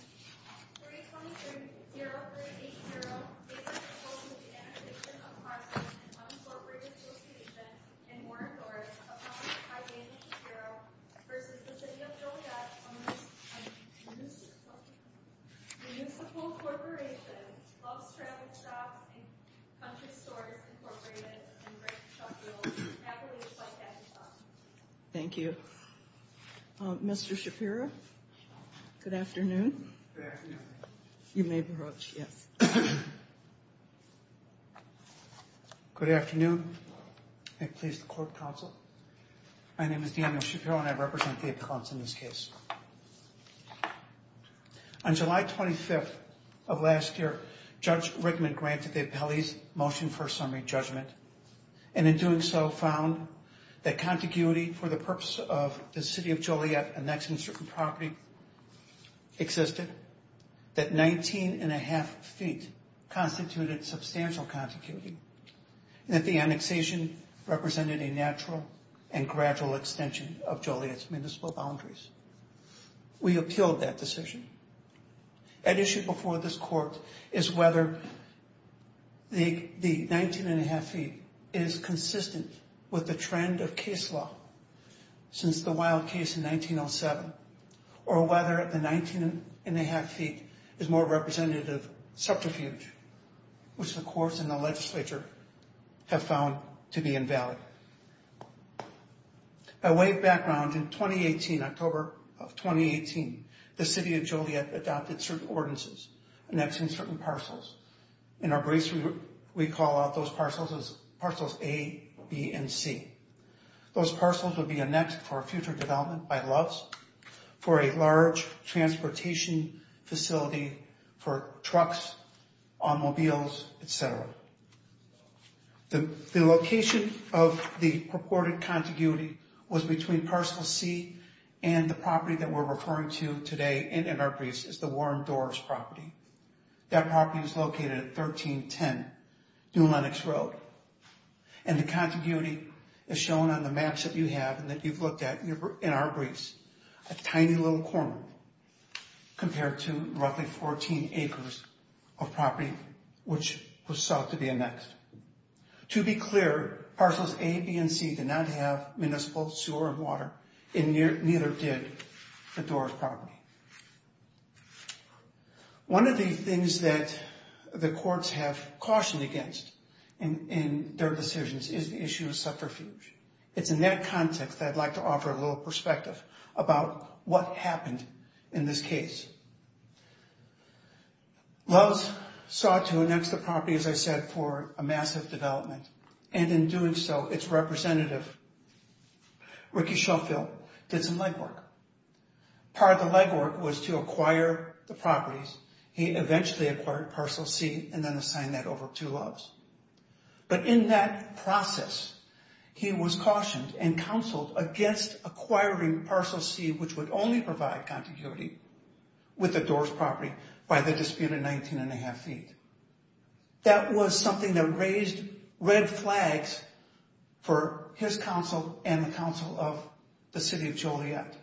323-0380 Opposed to Annexation of Parcels and Unabsorbed Registration in Orinthorpe Opposed to High-Density Bureau v. City of Joliet v. Municipal Corporation of Traffic Stops and Country Stores, Inc. and Brick Shuttles, Appalachia by Capitol Thank you. Mr. Shapiro, good afternoon. Good afternoon. You may approach, yes. Good afternoon. I'm pleased to court counsel. My name is Daniel Shapiro and I represent the appellants in this case. On July 25th of last year, Judge Rickman granted the appellee's Motion for a Summary Judgment and in doing so found that contiguity for the purpose of the City of Joliet annexing certain property existed, that 19 1⁄2 feet constituted substantial contiguity, and that the annexation represented a natural and gradual extension of Joliet's municipal boundaries. We appealed that decision. At issue before this court is whether the 19 1⁄2 feet is consistent with the trend of case law since the Wild Case in 1907 or whether the 19 1⁄2 feet is more representative of subterfuge, which the courts and the legislature have found to be invalid. By way of background, in 2018, October of 2018, the City of Joliet adopted certain ordinances, annexing certain parcels. In our briefs we call out those parcels as parcels A, B, and C. Those parcels would be annexed for future development by LOVES, for a large transportation facility for trucks, automobiles, etc. The location of the purported contiguity was between parcel C and the property that we're referring to today, and in our briefs is the Warren Dorff's property. That property is located at 1310 New Lenox Road, and the contiguity is shown on the maps that you have and that you've looked at in our briefs. A tiny little corner compared to roughly 14 acres of property, which was thought to be annexed. To be clear, parcels A, B, and C did not have municipal sewer and water, and neither did the Dorff property. One of the things that the courts have cautioned against in their decisions is the issue of subterfuge. It's in that context that I'd like to offer a little perspective about what happened in this case. LOVES sought to annex the property, as I said, for a massive development, and in doing so its representative, Ricky Schofield, did some legwork. Part of the legwork was to acquire the properties. He eventually acquired parcel C and then assigned that over to LOVES. But in that process, he was cautioned and counseled against acquiring parcel C, which would only provide contiguity with the Dorff's property by the disputed 19 1⁄2 feet. That was something that raised red flags for his counsel and the counsel of the city of Joliet.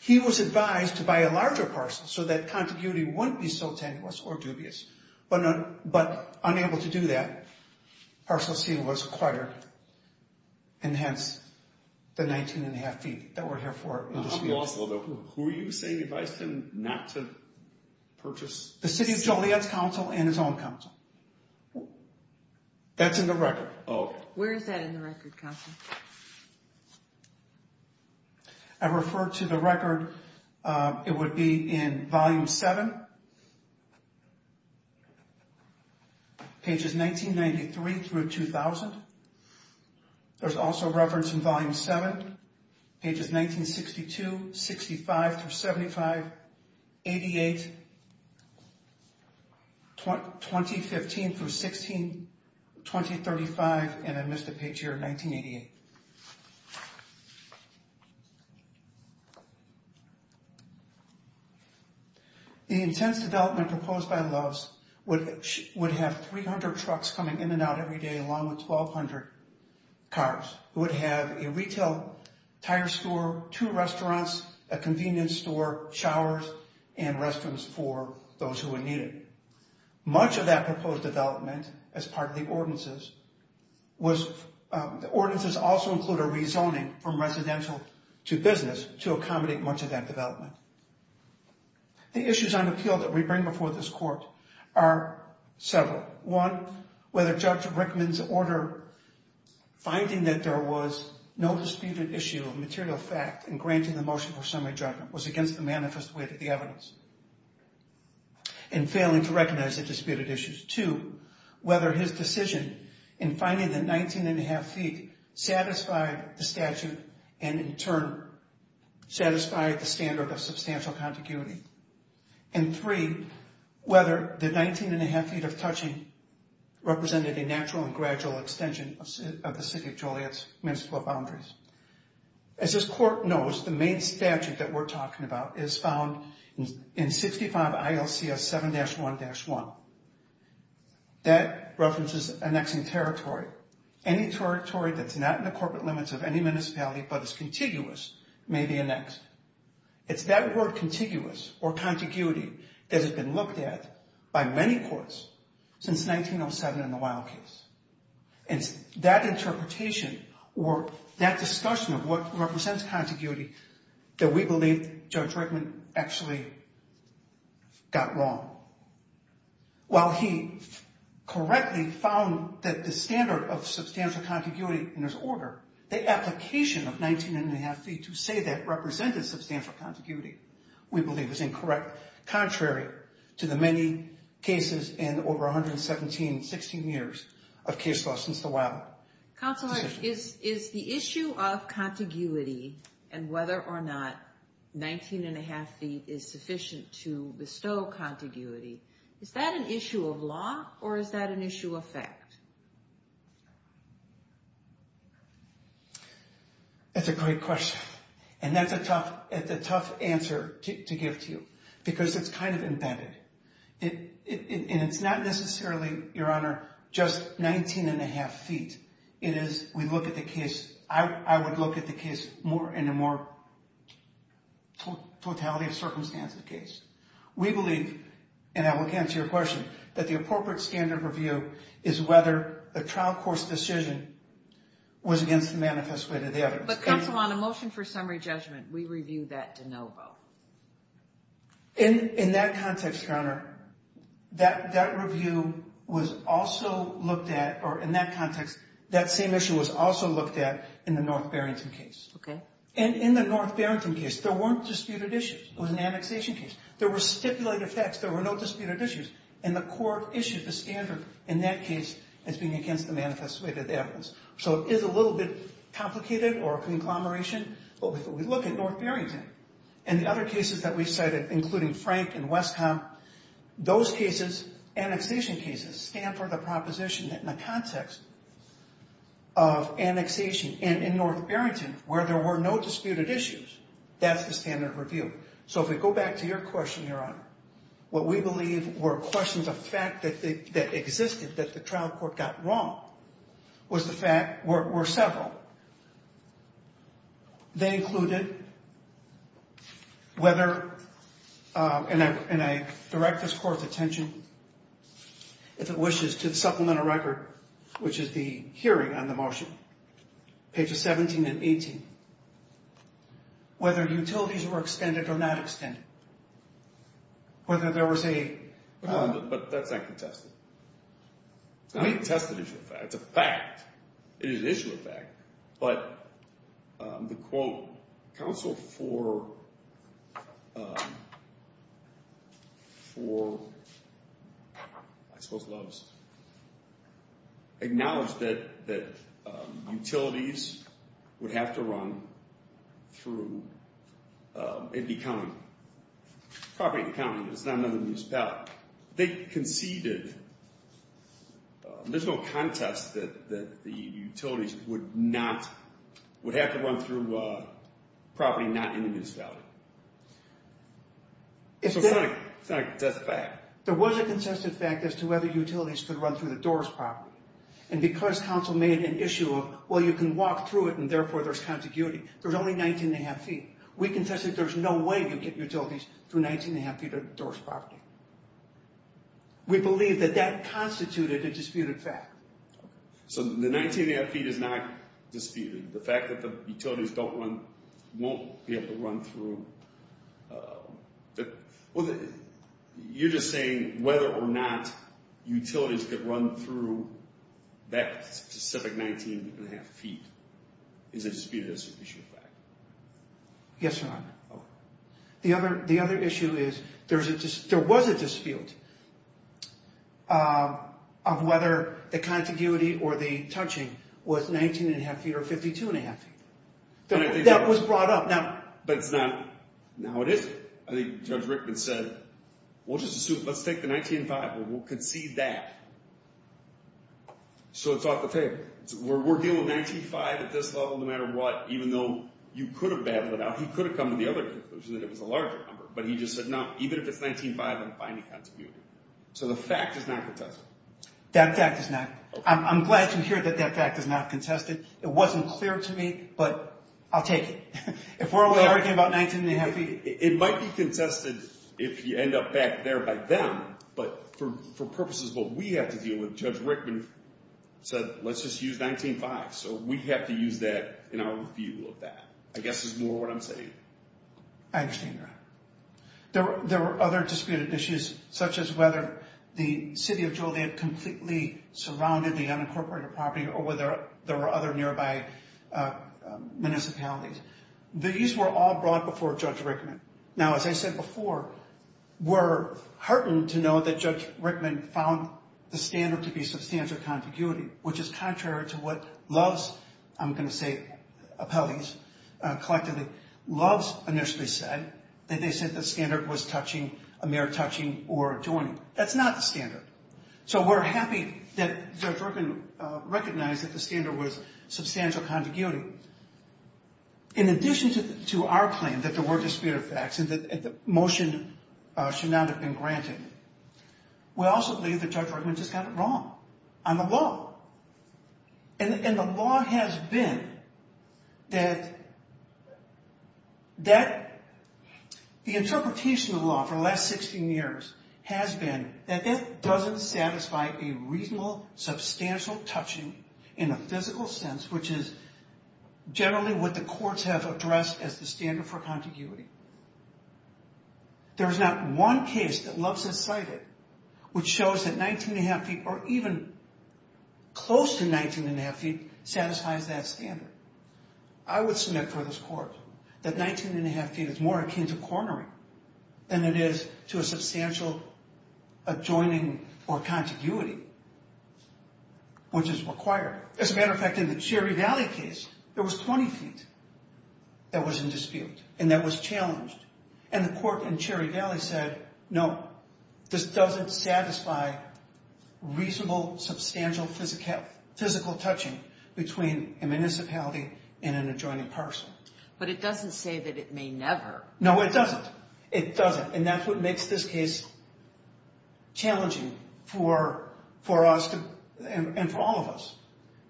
He was advised to buy a larger parcel so that contiguity wouldn't be so tenuous or dubious, but unable to do that, parcel C was acquired, and hence the 19 1⁄2 feet that we're here for. Who were you saying advised him not to purchase? The city of Joliet's counsel and his own counsel. That's in the record. Where is that in the record, counsel? I referred to the record. It would be in Volume 7, pages 1993 through 2000. There's also reference in Volume 7, pages 1962, 65 through 75, 88, 2015 through 16, 2035, and I missed a page here, 1988. The intense development proposed by LOVES would have 300 trucks coming in and out every day, along with 1,200 cars. It would have a retail tire store, two restaurants, a convenience store, showers, and restrooms for those who would need it. Much of that proposed development, as part of the ordinances, was the ordinances also include a rezoning from residential to business to accommodate much of that development. The issues on appeal that we bring before this court are several. One, whether Judge Rickman's order finding that there was no disputed issue of material fact in granting the motion for summary judgment was against the manifest way that the evidence and failing to recognize the disputed issues. Two, whether his decision in finding the 19 1⁄2 feet satisfied the statute and in turn satisfied the standard of substantial contiguity. And three, whether the 19 1⁄2 feet of touching represented a natural and gradual extension of the City of Joliet's municipal boundaries. As this court knows, the main statute that we're talking about is found in 65 ILCS 7-1-1. That references annexing territory. Any territory that's not in the corporate limits of any municipality but is contiguous may be annexed. It's that word contiguous or contiguity that has been looked at by many courts since 1907 in the Wild Case. And that interpretation or that discussion of what represents contiguity that we believe Judge Rickman actually got wrong. While he correctly found that the standard of substantial contiguity in his order, the application of 19 1⁄2 feet to say that represented substantial contiguity, we believe is incorrect, contrary to the many cases in over 117, 16 years of case law since the Wild. Counselor, is the issue of contiguity and whether or not 19 1⁄2 feet is sufficient to bestow contiguity, is that an issue of law or is that an issue of fact? That's a great question. And that's a tough answer to give to you because it's kind of embedded. And it's not necessarily, Your Honor, just 19 1⁄2 feet. It is, we look at the case, I would look at the case in a more totality of circumstances case. We believe, and I will answer your question, that the appropriate standard review is whether a trial course decision was against the manifest way to the evidence. But, Counsel, on a motion for summary judgment, we review that de novo. In that context, Your Honor, that review was also looked at, or in that context, that same issue was also looked at in the North Barrington case. And in the North Barrington case, there weren't disputed issues. It was an annexation case. There were stipulated facts. There were no disputed issues. And the court issued the standard in that case as being against the manifest way to the evidence. So it is a little bit complicated or a conglomeration. But if we look at North Barrington and the other cases that we cited, including Frank and Westham, those cases, annexation cases, stand for the proposition that in the context of annexation and in North Barrington where there were no disputed issues, that's the standard review. So if we go back to your question, Your Honor, what we believe were questions of fact that existed that the trial court got wrong were several. They included whether, and I direct this court's attention, if it wishes, to the supplemental record, which is the hearing on the motion, pages 17 and 18, whether utilities were extended or not extended, whether there was a... But that's not contested. It's not a contested issue of fact. It's a fact. It is an issue of fact. But the, quote, counsel for, I suppose, Lowe's, acknowledged that utilities would have to run through Andy County. Property in the county. It's not under the municipality. They conceded, there's no contest that the utilities would not, would have to run through property not in this valley. So it's not a contested fact. There was a contested fact as to whether utilities could run through the Doors property. And because counsel made an issue of, well, you can walk through it and therefore there's contiguity, there's only 19 1⁄2 feet. We contested there's no way you'd get utilities through 19 1⁄2 feet of Doors property. We believe that that constituted a disputed fact. So the 19 1⁄2 feet is not disputed. The fact that the utilities don't run, won't be able to run through... Well, you're just saying whether or not utilities could run through that specific 19 1⁄2 feet is a disputed issue of fact. Yes, Your Honor. The other issue is there was a dispute of whether the contiguity or the touching was 19 1⁄2 feet or 52 1⁄2 feet. That was brought up. But it's not, now it isn't. I think Judge Rickman said, well, just assume, let's take the 19 5, we'll concede that. So it's off the table. We're dealing with 19 5 at this level, no matter what, even though you could have battled it out. He could have come to the other conclusion that it was a larger number. But he just said, no, even if it's 19 5, I'm fine with contiguity. So the fact is not contested. That fact is not. I'm glad to hear that that fact is not contested. It wasn't clear to me, but I'll take it. If we're only arguing about 19 1⁄2 feet... It might be contested if you end up back there by them. But for purposes of what we have to deal with, Judge Rickman said, let's just use 19 5. So we have to use that in our view of that. I guess it's more what I'm saying. I understand that. There were other disputed issues, such as whether the city of Joliet completely surrounded the unincorporated property or whether there were other nearby municipalities. These were all brought before Judge Rickman. Now, as I said before, we're heartened to know that Judge Rickman found the standard to be substantial contiguity, which is contrary to what Love's, I'm going to say, appellees collectively, Love's initially said, that they said the standard was a mere touching or adjoining. That's not the standard. So we're happy that Judge Rickman recognized that the standard was substantial contiguity. In addition to our claim that there were disputed facts and that the motion should not have been granted, we also believe that Judge Rickman just got it wrong on the law. And the law has been that the interpretation of the law for the last 16 years has been that that doesn't satisfy a reasonable, substantial touching in a physical sense, which is generally what the courts have addressed as the standard for contiguity. There is not one case that Love's has cited which shows that 19 1⁄2 feet or even close to 19 1⁄2 feet satisfies that standard. I would submit for this court that 19 1⁄2 feet is more akin to cornering than it is to a substantial adjoining or contiguity, which is required. As a matter of fact, in the Cherry Valley case, there was 20 feet that was in dispute and that was challenged. And the court in Cherry Valley said, no, this doesn't satisfy reasonable, substantial physical touching between a municipality and an adjoining parcel. But it doesn't say that it may never. No, it doesn't. It doesn't. And that's what makes this case challenging for us and for all of us.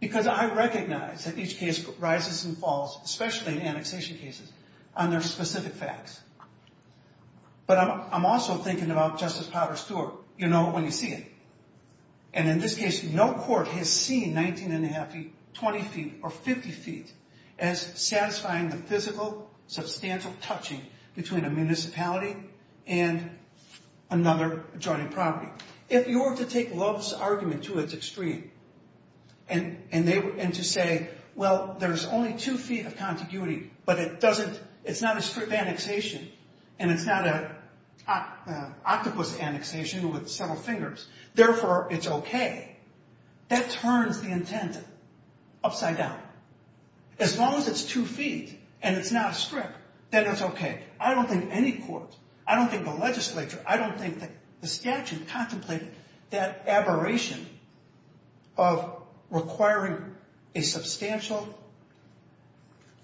Because I recognize that each case rises and falls, especially in annexation cases, on their specific facts. But I'm also thinking about Justice Potter Stewart. You know it when you see it. And in this case, no court has seen 19 1⁄2 feet, 20 feet, or 50 feet as satisfying the physical, substantial touching between a municipality and another adjoining property. If you were to take Love's argument to its extreme and to say, well, there's only two feet of contiguity, but it's not a strip annexation and it's not an octopus annexation with several fingers. Therefore, it's okay. That turns the intent upside down. As long as it's two feet and it's not a strip, then it's okay. I don't think any court, I don't think the legislature, I don't think the statute contemplated that aberration of requiring a substantial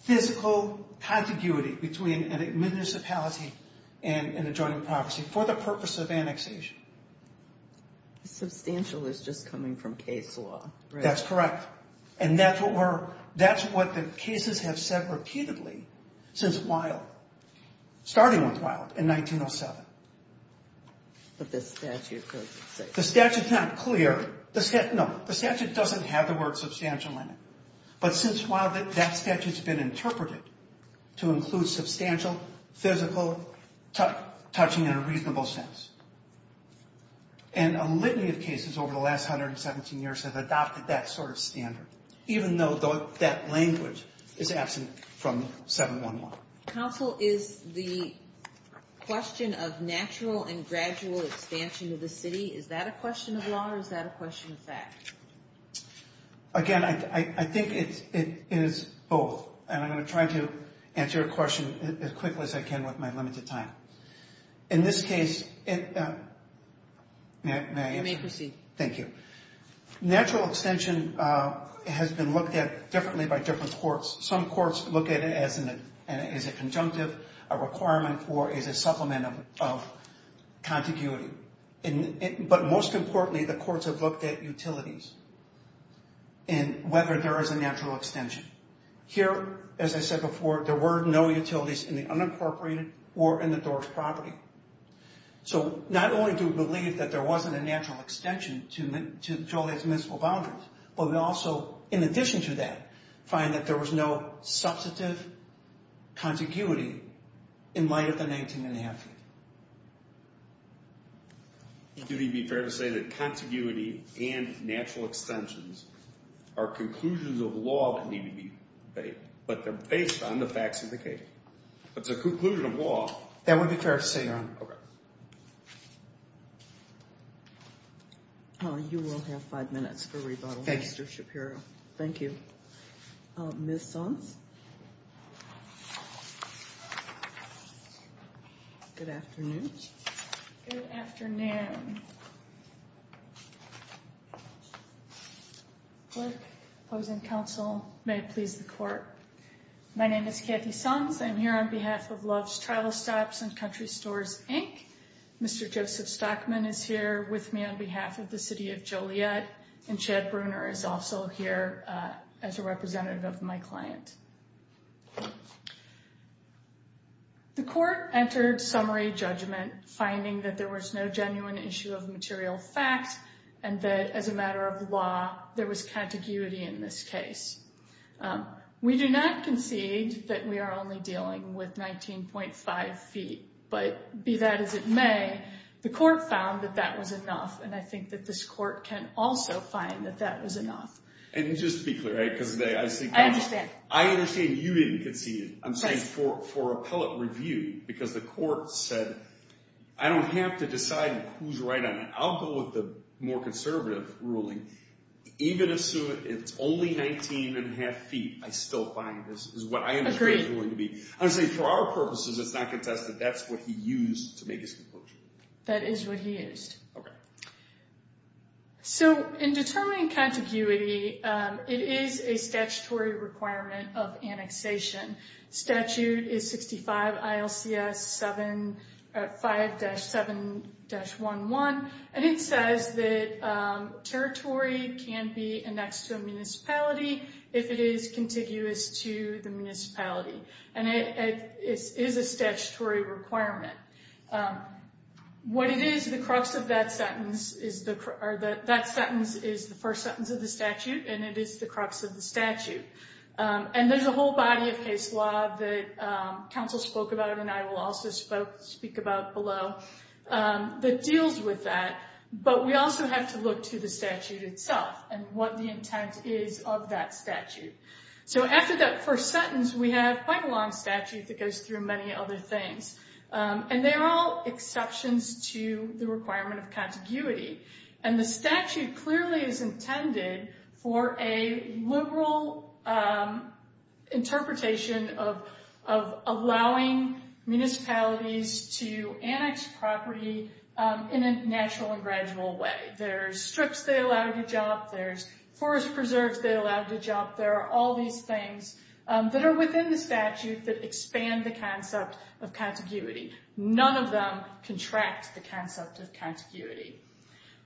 physical contiguity between a municipality and an adjoining property for the purpose of annexation. Substantial is just coming from case law. That's correct. And that's what the cases have said repeatedly since Wilde, starting with Wilde in 1907. But the statute doesn't say that. The statute's not clear. No, the statute doesn't have the word substantial in it. But since Wilde, that statute's been interpreted to include substantial, physical, touching in a reasonable sense. And a litany of cases over the last 117 years have adopted that sort of standard, even though that language is absent from 711. Counsel, is the question of natural and gradual expansion of the city, is that a question of law or is that a question of fact? Again, I think it is both. And I'm going to try to answer your question as quickly as I can with my limited time. In this case, may I answer? You may proceed. Thank you. Natural extension has been looked at differently by different courts. Some courts look at it as a conjunctive, a requirement, or as a supplement of contiguity. But most importantly, the courts have looked at utilities and whether there is a natural extension. Here, as I said before, there were no utilities in the unincorporated or in the doors property. So not only do we believe that there wasn't a natural extension to Joliet's municipal boundaries, but we also, in addition to that, find that there was no substantive contiguity in light of the 19 1⁄2 feet. Would it be fair to say that contiguity and natural extensions are conclusions of law that need to be made, but they're based on the facts of the case? It's a conclusion of law. That would be fair to say, Your Honor. Okay. You will have five minutes for rebuttal, Mr. Shapiro. Thank you. Ms. Sons? Ms. Sons? Good afternoon. Good afternoon. Opposing counsel, may it please the court. My name is Kathy Sons. I'm here on behalf of Love's Travel Stops and Country Stores, Inc. Mr. Joseph Stockman is here with me on behalf of the city of Joliet, and Chad Bruner is also here as a representative of my client. The court entered summary judgment, finding that there was no genuine issue of material facts and that, as a matter of law, there was contiguity in this case. We do not concede that we are only dealing with 19.5 feet, but be that as it may, the court found that that was enough, and I think that this court can also find that that was enough. And just to be clear, I understand you didn't concede. I'm saying for appellate review, because the court said, I don't have to decide who's right on it. I'll go with the more conservative ruling. Even assuming it's only 19.5 feet, I still find this is what I understand it's going to be. Agreed. I'm saying for our purposes, it's not contested. That's what he used to make his conclusion. That is what he used. Okay. So in determining contiguity, it is a statutory requirement of annexation. Statute is 65 ILCS 5-7-11, and it says that territory can be annexed to a municipality if it is contiguous to the municipality. And it is a statutory requirement. What it is, the crux of that sentence is the first sentence of the statute, and it is the crux of the statute. And there's a whole body of case law that counsel spoke about, and I will also speak about below, that deals with that. But we also have to look to the statute itself and what the intent is of that statute. So after that first sentence, we have quite a long statute that goes through many other things. And they're all exceptions to the requirement of contiguity. And the statute clearly is intended for a liberal interpretation of allowing municipalities to annex property in a natural and gradual way. There's strips they allow to job. There's forest preserves they allow to job. There are all these things that are within the statute that expand the concept of contiguity. None of them contract the concept of contiguity.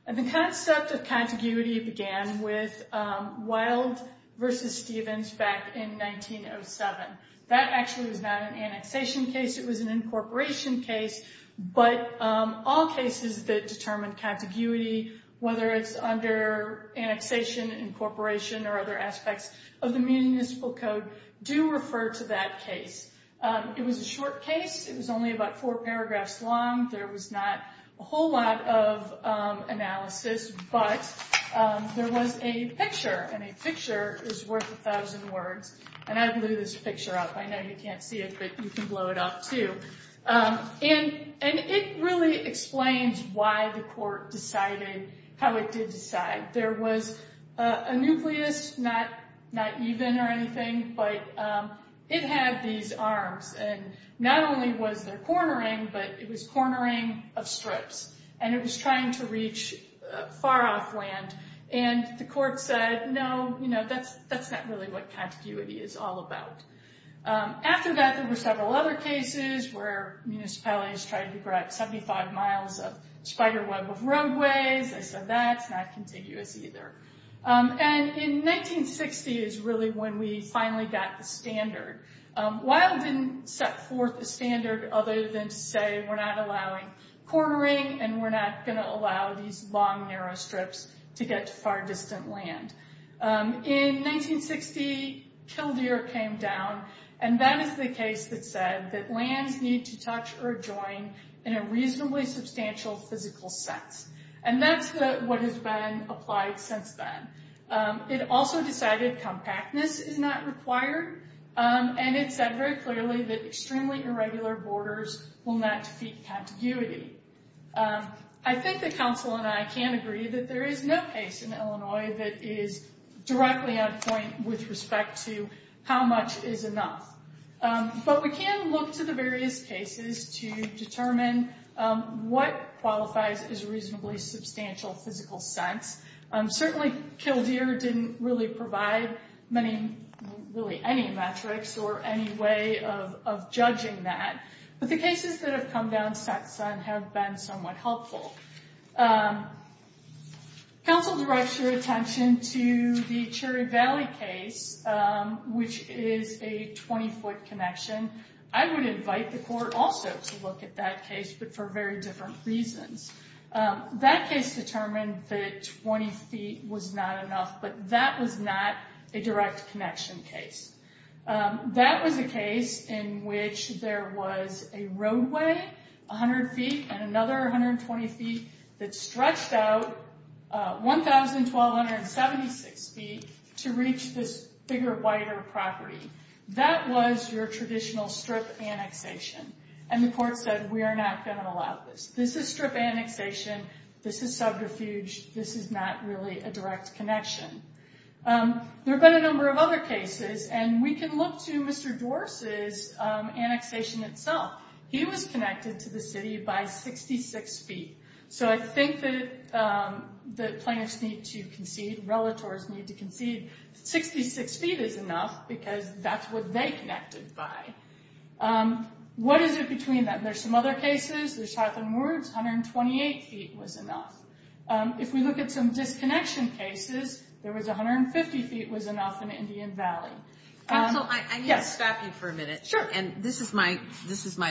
And the concept of contiguity began with Wilde v. Stevens back in 1907. That actually was not an annexation case. It was an incorporation case. But all cases that determine contiguity, whether it's under annexation, incorporation, or other aspects of the municipal code, do refer to that case. It was a short case. It was only about four paragraphs long. There was not a whole lot of analysis. But there was a picture, and a picture is worth a thousand words. And I blew this picture up. I know you can't see it, but you can blow it up too. And it really explains why the court decided how it did decide. There was a nucleus, not even or anything, but it had these arms. And not only was there cornering, but it was cornering of strips. And it was trying to reach far off land. And the court said, no, that's not really what contiguity is all about. After that, there were several other cases where municipalities tried to grab 75 miles of spiderweb of roadways. I said, that's not contiguous either. And in 1960 is really when we finally got the standard. Weill didn't set forth a standard other than to say we're not allowing cornering, and we're not going to allow these long, narrow strips to get to far distant land. In 1960, Kildare came down. And that is the case that said that lands need to touch or join in a reasonably substantial physical sense. And that's what has been applied since then. It also decided compactness is not required. And it said very clearly that extremely irregular borders will not defeat contiguity. I think that counsel and I can agree that there is no case in Illinois that is directly on point with respect to how much is enough. But we can look to the various cases to determine what qualifies as reasonably substantial physical sense. Certainly, Kildare didn't really provide any metrics or any way of judging that. But the cases that have come down since then have been somewhat helpful. Counsel directs your attention to the Cherry Valley case, which is a 20-foot connection. I would invite the court also to look at that case, but for very different reasons. That case determined that 20 feet was not enough, but that was not a direct connection case. That was a case in which there was a roadway 100 feet and another 120 feet that stretched out 1,276 feet to reach this bigger, wider property. That was your traditional strip annexation. And the court said, we are not going to allow this. This is strip annexation. This is subterfuge. This is not really a direct connection. There have been a number of other cases, and we can look to Mr. Dworce's annexation itself. He was connected to the city by 66 feet. So I think that the plaintiffs need to concede. Relators need to concede. 66 feet is enough, because that's what they connected by. What is it between them? There's some other cases. There's Chatham Woods. 128 feet was enough. If we look at some disconnection cases, there was 150 feet was enough in Indian Valley. And so I need to stop you for a minute. Sure. And this is my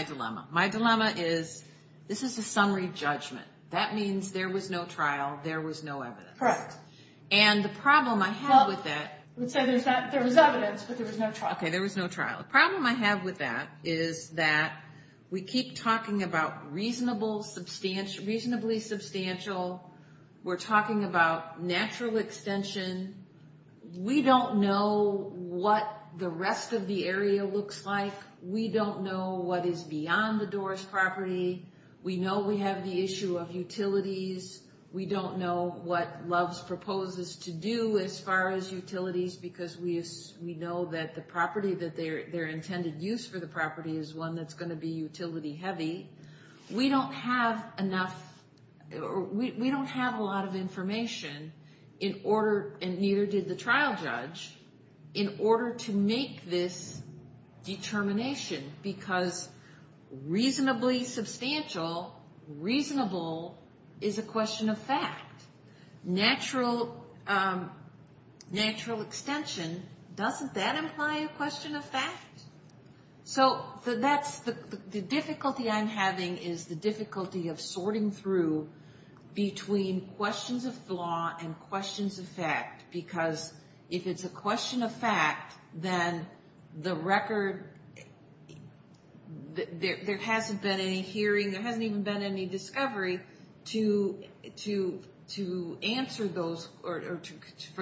dilemma. My dilemma is, this is a summary judgment. That means there was no trial. There was no evidence. Correct. And the problem I have with that... Okay, there was no trial. The problem I have with that is that we keep talking about reasonably substantial. We're talking about natural extension. We don't know what the rest of the area looks like. We don't know what is beyond the Dworce property. We know we have the issue of utilities. We don't know what Loves proposes to do as far as utilities, because we know that their intended use for the property is one that's going to be utility heavy. We don't have a lot of information, and neither did the trial judge, in order to make this determination, because reasonably substantial, reasonable, is a question of fact. Natural extension, doesn't that imply a question of fact? So the difficulty I'm having is the difficulty of sorting through between questions of flaw and questions of fact, because if it's a question of fact, then there hasn't been any hearing, there hasn't even been any discovery for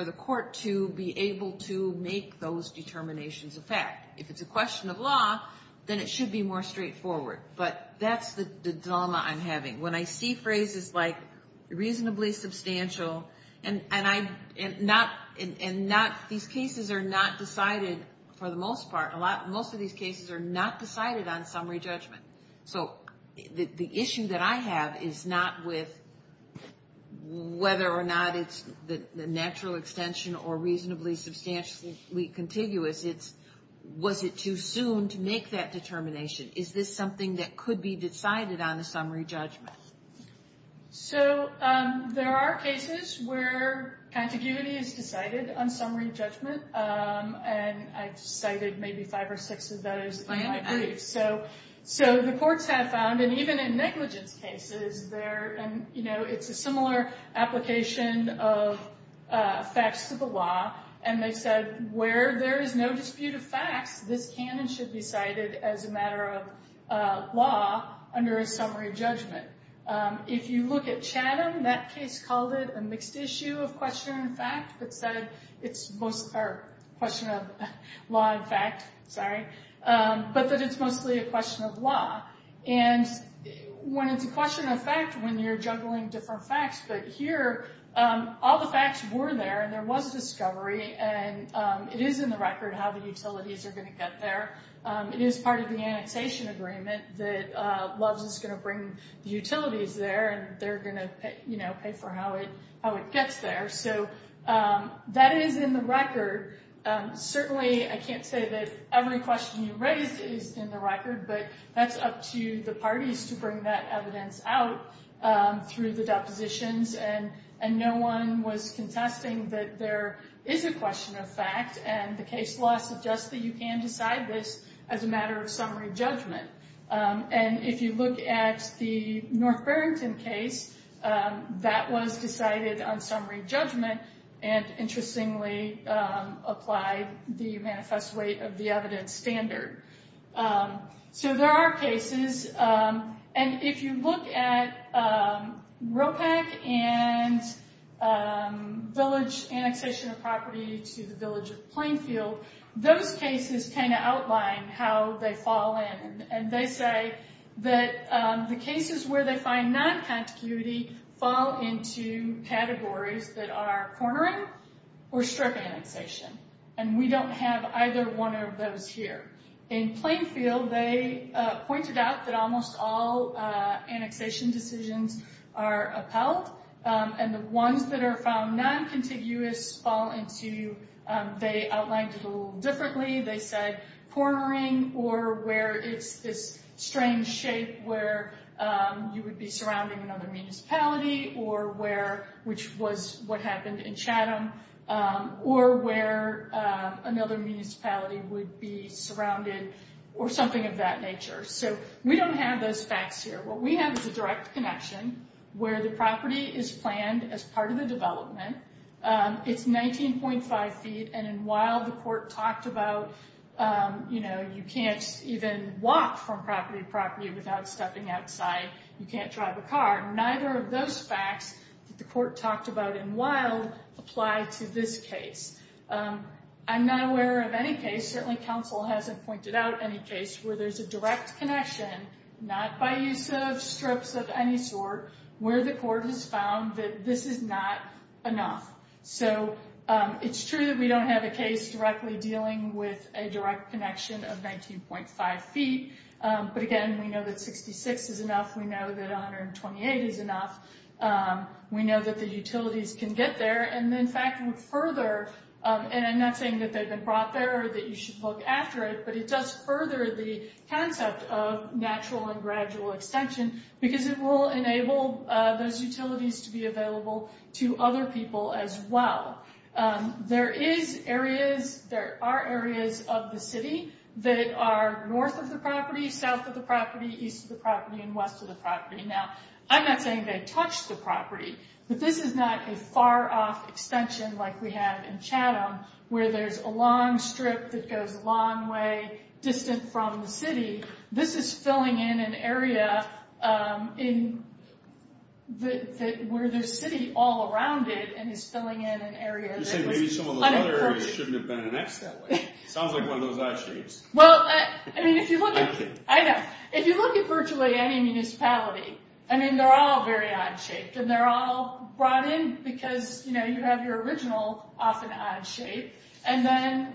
the court to be able to make those determinations a fact. If it's a question of law, then it should be more straightforward. But that's the dilemma I'm having. When I see phrases like reasonably substantial, and these cases are not decided, for the most part, most of these cases are not decided on summary judgment. So the issue that I have is not with whether or not it's the natural extension or reasonably substantially contiguous, it's was it too soon to make that determination? Is this something that could be decided on a summary judgment? So there are cases where contiguity is decided on summary judgment, and I've cited maybe five or six of those in my briefs. So the courts have found, and even in negligence cases, it's a similar application of facts to the law, and they said where there is no dispute of facts, this can and should be cited as a matter of law under a summary judgment. If you look at Chatham, that case called it a mixed issue of question and fact, but said it's mostly a question of law and fact, but that it's mostly a question of law. And when it's a question of fact, when you're juggling different facts, but here all the facts were there, and there was a discovery, and it is in the record how the utilities are going to get there. It is part of the annexation agreement that LOVES is going to bring the utilities there, and they're going to pay for how it gets there. So that is in the record. Certainly I can't say that every question you raise is in the record, but that's up to the parties to bring that evidence out through the depositions, and no one was contesting that there is a question of fact, and the case law suggests that you can decide this as a matter of summary judgment. And if you look at the North Barrington case, that was decided on summary judgment and interestingly applied the manifest weight of the evidence standard. So there are cases, and if you look at ROPEC and village annexation of property to the village of Plainfield, those cases kind of outline how they fall in, and they say that the cases where they find non-contiguity fall into categories that are cornering or strip annexation, and we don't have either one of those here. In Plainfield, they pointed out that almost all annexation decisions are upheld, and the ones that are found non-contiguous fall into, they outlined it a little differently. They said cornering or where it's this strange shape where you would be surrounding another municipality or where, which was what happened in Chatham, or where another municipality would be surrounded or something of that nature. So we don't have those facts here. What we have is a direct connection where the property is planned as part of the development. It's 19.5 feet, and in Wild, the court talked about, you know, you can't even walk from property to property without stepping outside. You can't drive a car. Neither of those facts that the court talked about in Wild apply to this case. I'm not aware of any case, certainly counsel hasn't pointed out any case, where there's a direct connection, not by use of strips of any sort, where the court has found that this is not enough. So it's true that we don't have a case directly dealing with a direct connection of 19.5 feet. But again, we know that 66 is enough. We know that 128 is enough. We know that the utilities can get there. And in fact, further, and I'm not saying that they've been brought there or that you should look after it, but it does further the concept of natural and gradual extension, because it will enable those utilities to be available to other people as well. There is areas, there are areas of the city that are north of the property, south of the property, east of the property, and west of the property. Now, I'm not saying they touch the property, but this is not a far-off extension like we have in Chatham, where there's a long strip that goes a long way, distant from the city. This is filling in an area where there's city all around it, and is filling in an area that is unapproachable. You're saying maybe some of those other areas shouldn't have been annexed that way. Sounds like one of those odd shapes. Well, I mean, if you look at virtually any municipality, I mean, they're all very odd shaped, and they're all brought in because you have your original often odd shape, and then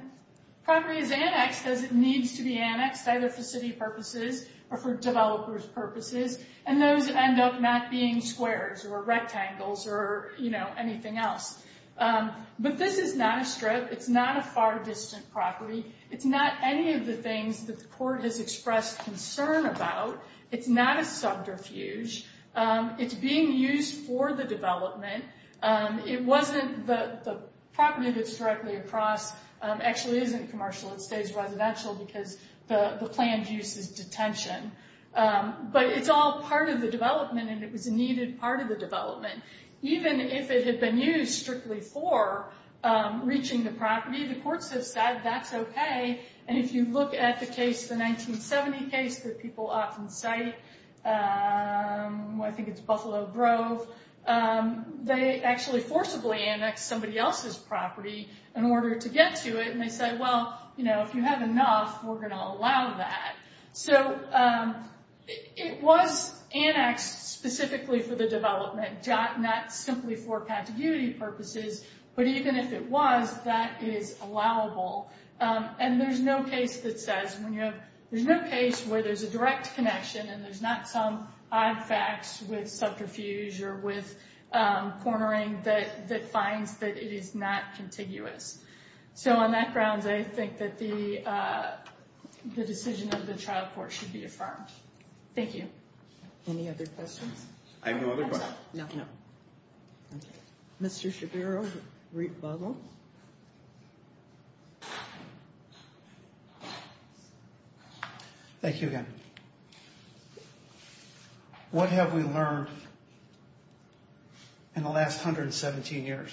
property is annexed because it needs to be annexed, either for city purposes or for developers' purposes, and those end up not being squares or rectangles or anything else. But this is not a strip. It's not a far-distant property. It's not any of the things that the court has expressed concern about. It's not a subterfuge. It's being used for the development. The property that's directly across actually isn't commercial. It stays residential because the planned use is detention. But it's all part of the development, and it was a needed part of the development. Even if it had been used strictly for reaching the property, the courts have said that's okay, and if you look at the case, the 1970 case that people often cite, I think it's Buffalo Grove, they actually forcibly annexed somebody else's property in order to get to it, and they said, well, you know, if you have enough, we're going to allow that. So it was annexed specifically for the development, not simply for contiguity purposes, but even if it was, that is allowable. And there's no case that says, there's no case where there's a direct connection and there's not some odd facts with subterfuge or with cornering that finds that it is not contiguous. So on that grounds, I think that the decision of the trial court should be affirmed. Thank you. Any other questions? I have no other questions. No. Okay. Mr. Shabiro, rebuttal. Thank you. Thank you again. What have we learned in the last 117 years?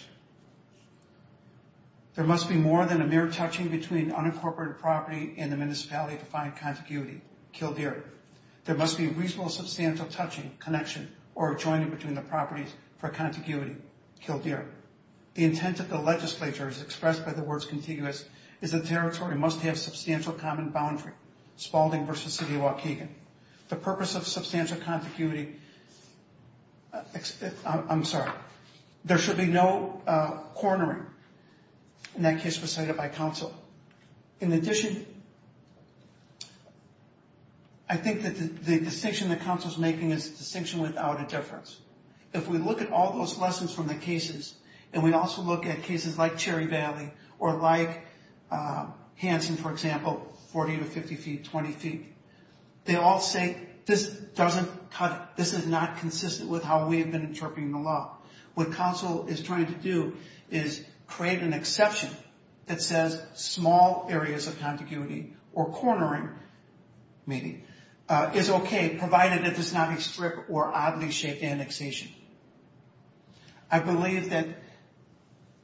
There must be more than a mere touching between unincorporated property and the municipality to find contiguity. Kildare. There must be reasonable substantial touching, connection, or joining between the properties for contiguity. Kildare. The intent of the legislature, as expressed by the words contiguous, is the territory must have substantial common boundary. Spalding versus City of Waukegan. The purpose of substantial contiguity. I'm sorry. There should be no cornering. And that case was cited by counsel. In addition, I think that the distinction that counsel is making is a distinction without a difference. If we look at all those lessons from the cases, and we also look at cases like Cherry Valley or like Hanson, for example, 40 to 50 feet, 20 feet, they all say this doesn't cut it. This is not consistent with how we have been interpreting the law. What counsel is trying to do is create an exception that says small areas of contiguity or cornering, maybe, is okay, provided that there's not a strip or oddly shaped annexation. I believe that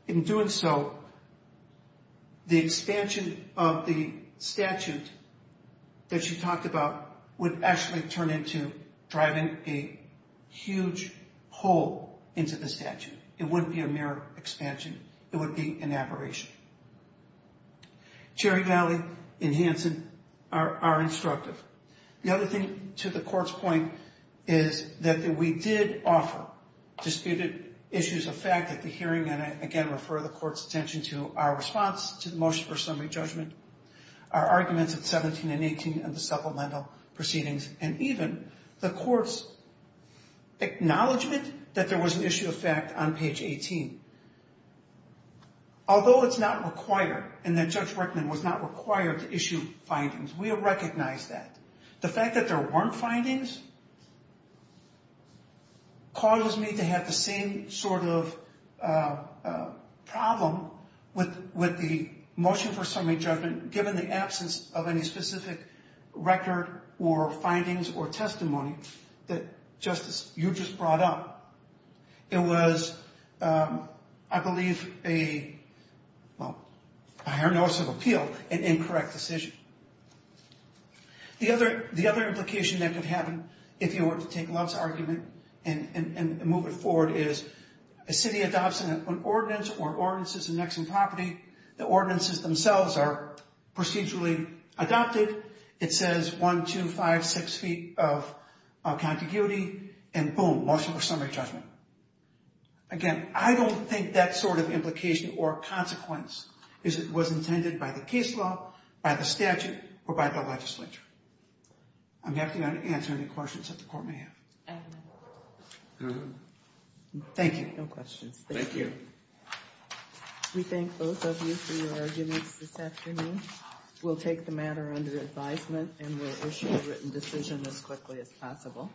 in doing so, the expansion of the statute that you talked about would actually turn into driving a huge hole into the statute. It wouldn't be a mere expansion. It would be an aberration. Cherry Valley and Hanson are instructive. The other thing, to the court's point, is that we did offer disputed issues of fact at the hearing, and I again refer the court's attention to our response to the motion for summary judgment, our arguments at 17 and 18, and the supplemental proceedings, and even the court's acknowledgement that there was an issue of fact on page 18. Although it's not required, and that Judge Rickman was not required to issue findings, we have recognized that. The fact that there weren't findings causes me to have the same sort of problem with the motion for summary judgment, given the absence of any specific record or findings or testimony that, Justice, you just brought up. It was, I believe, a, well, a higher notice of appeal, an incorrect decision. The other implication that could happen, if you were to take Love's argument and move it forward, is a city adopts an ordinance or ordinances in Nexon property, the ordinances themselves are procedurally adopted. It says one, two, five, six feet of contiguity, and boom, motion for summary judgment. Again, I don't think that sort of implication or consequence was intended by the case law, by the statute, or by the legislature. I'm happy to answer any questions that the court may have. Thank you. No questions. Thank you. We thank both of you for your arguments this afternoon. We'll take the matter under advisement, and we'll issue a written decision as quickly as possible.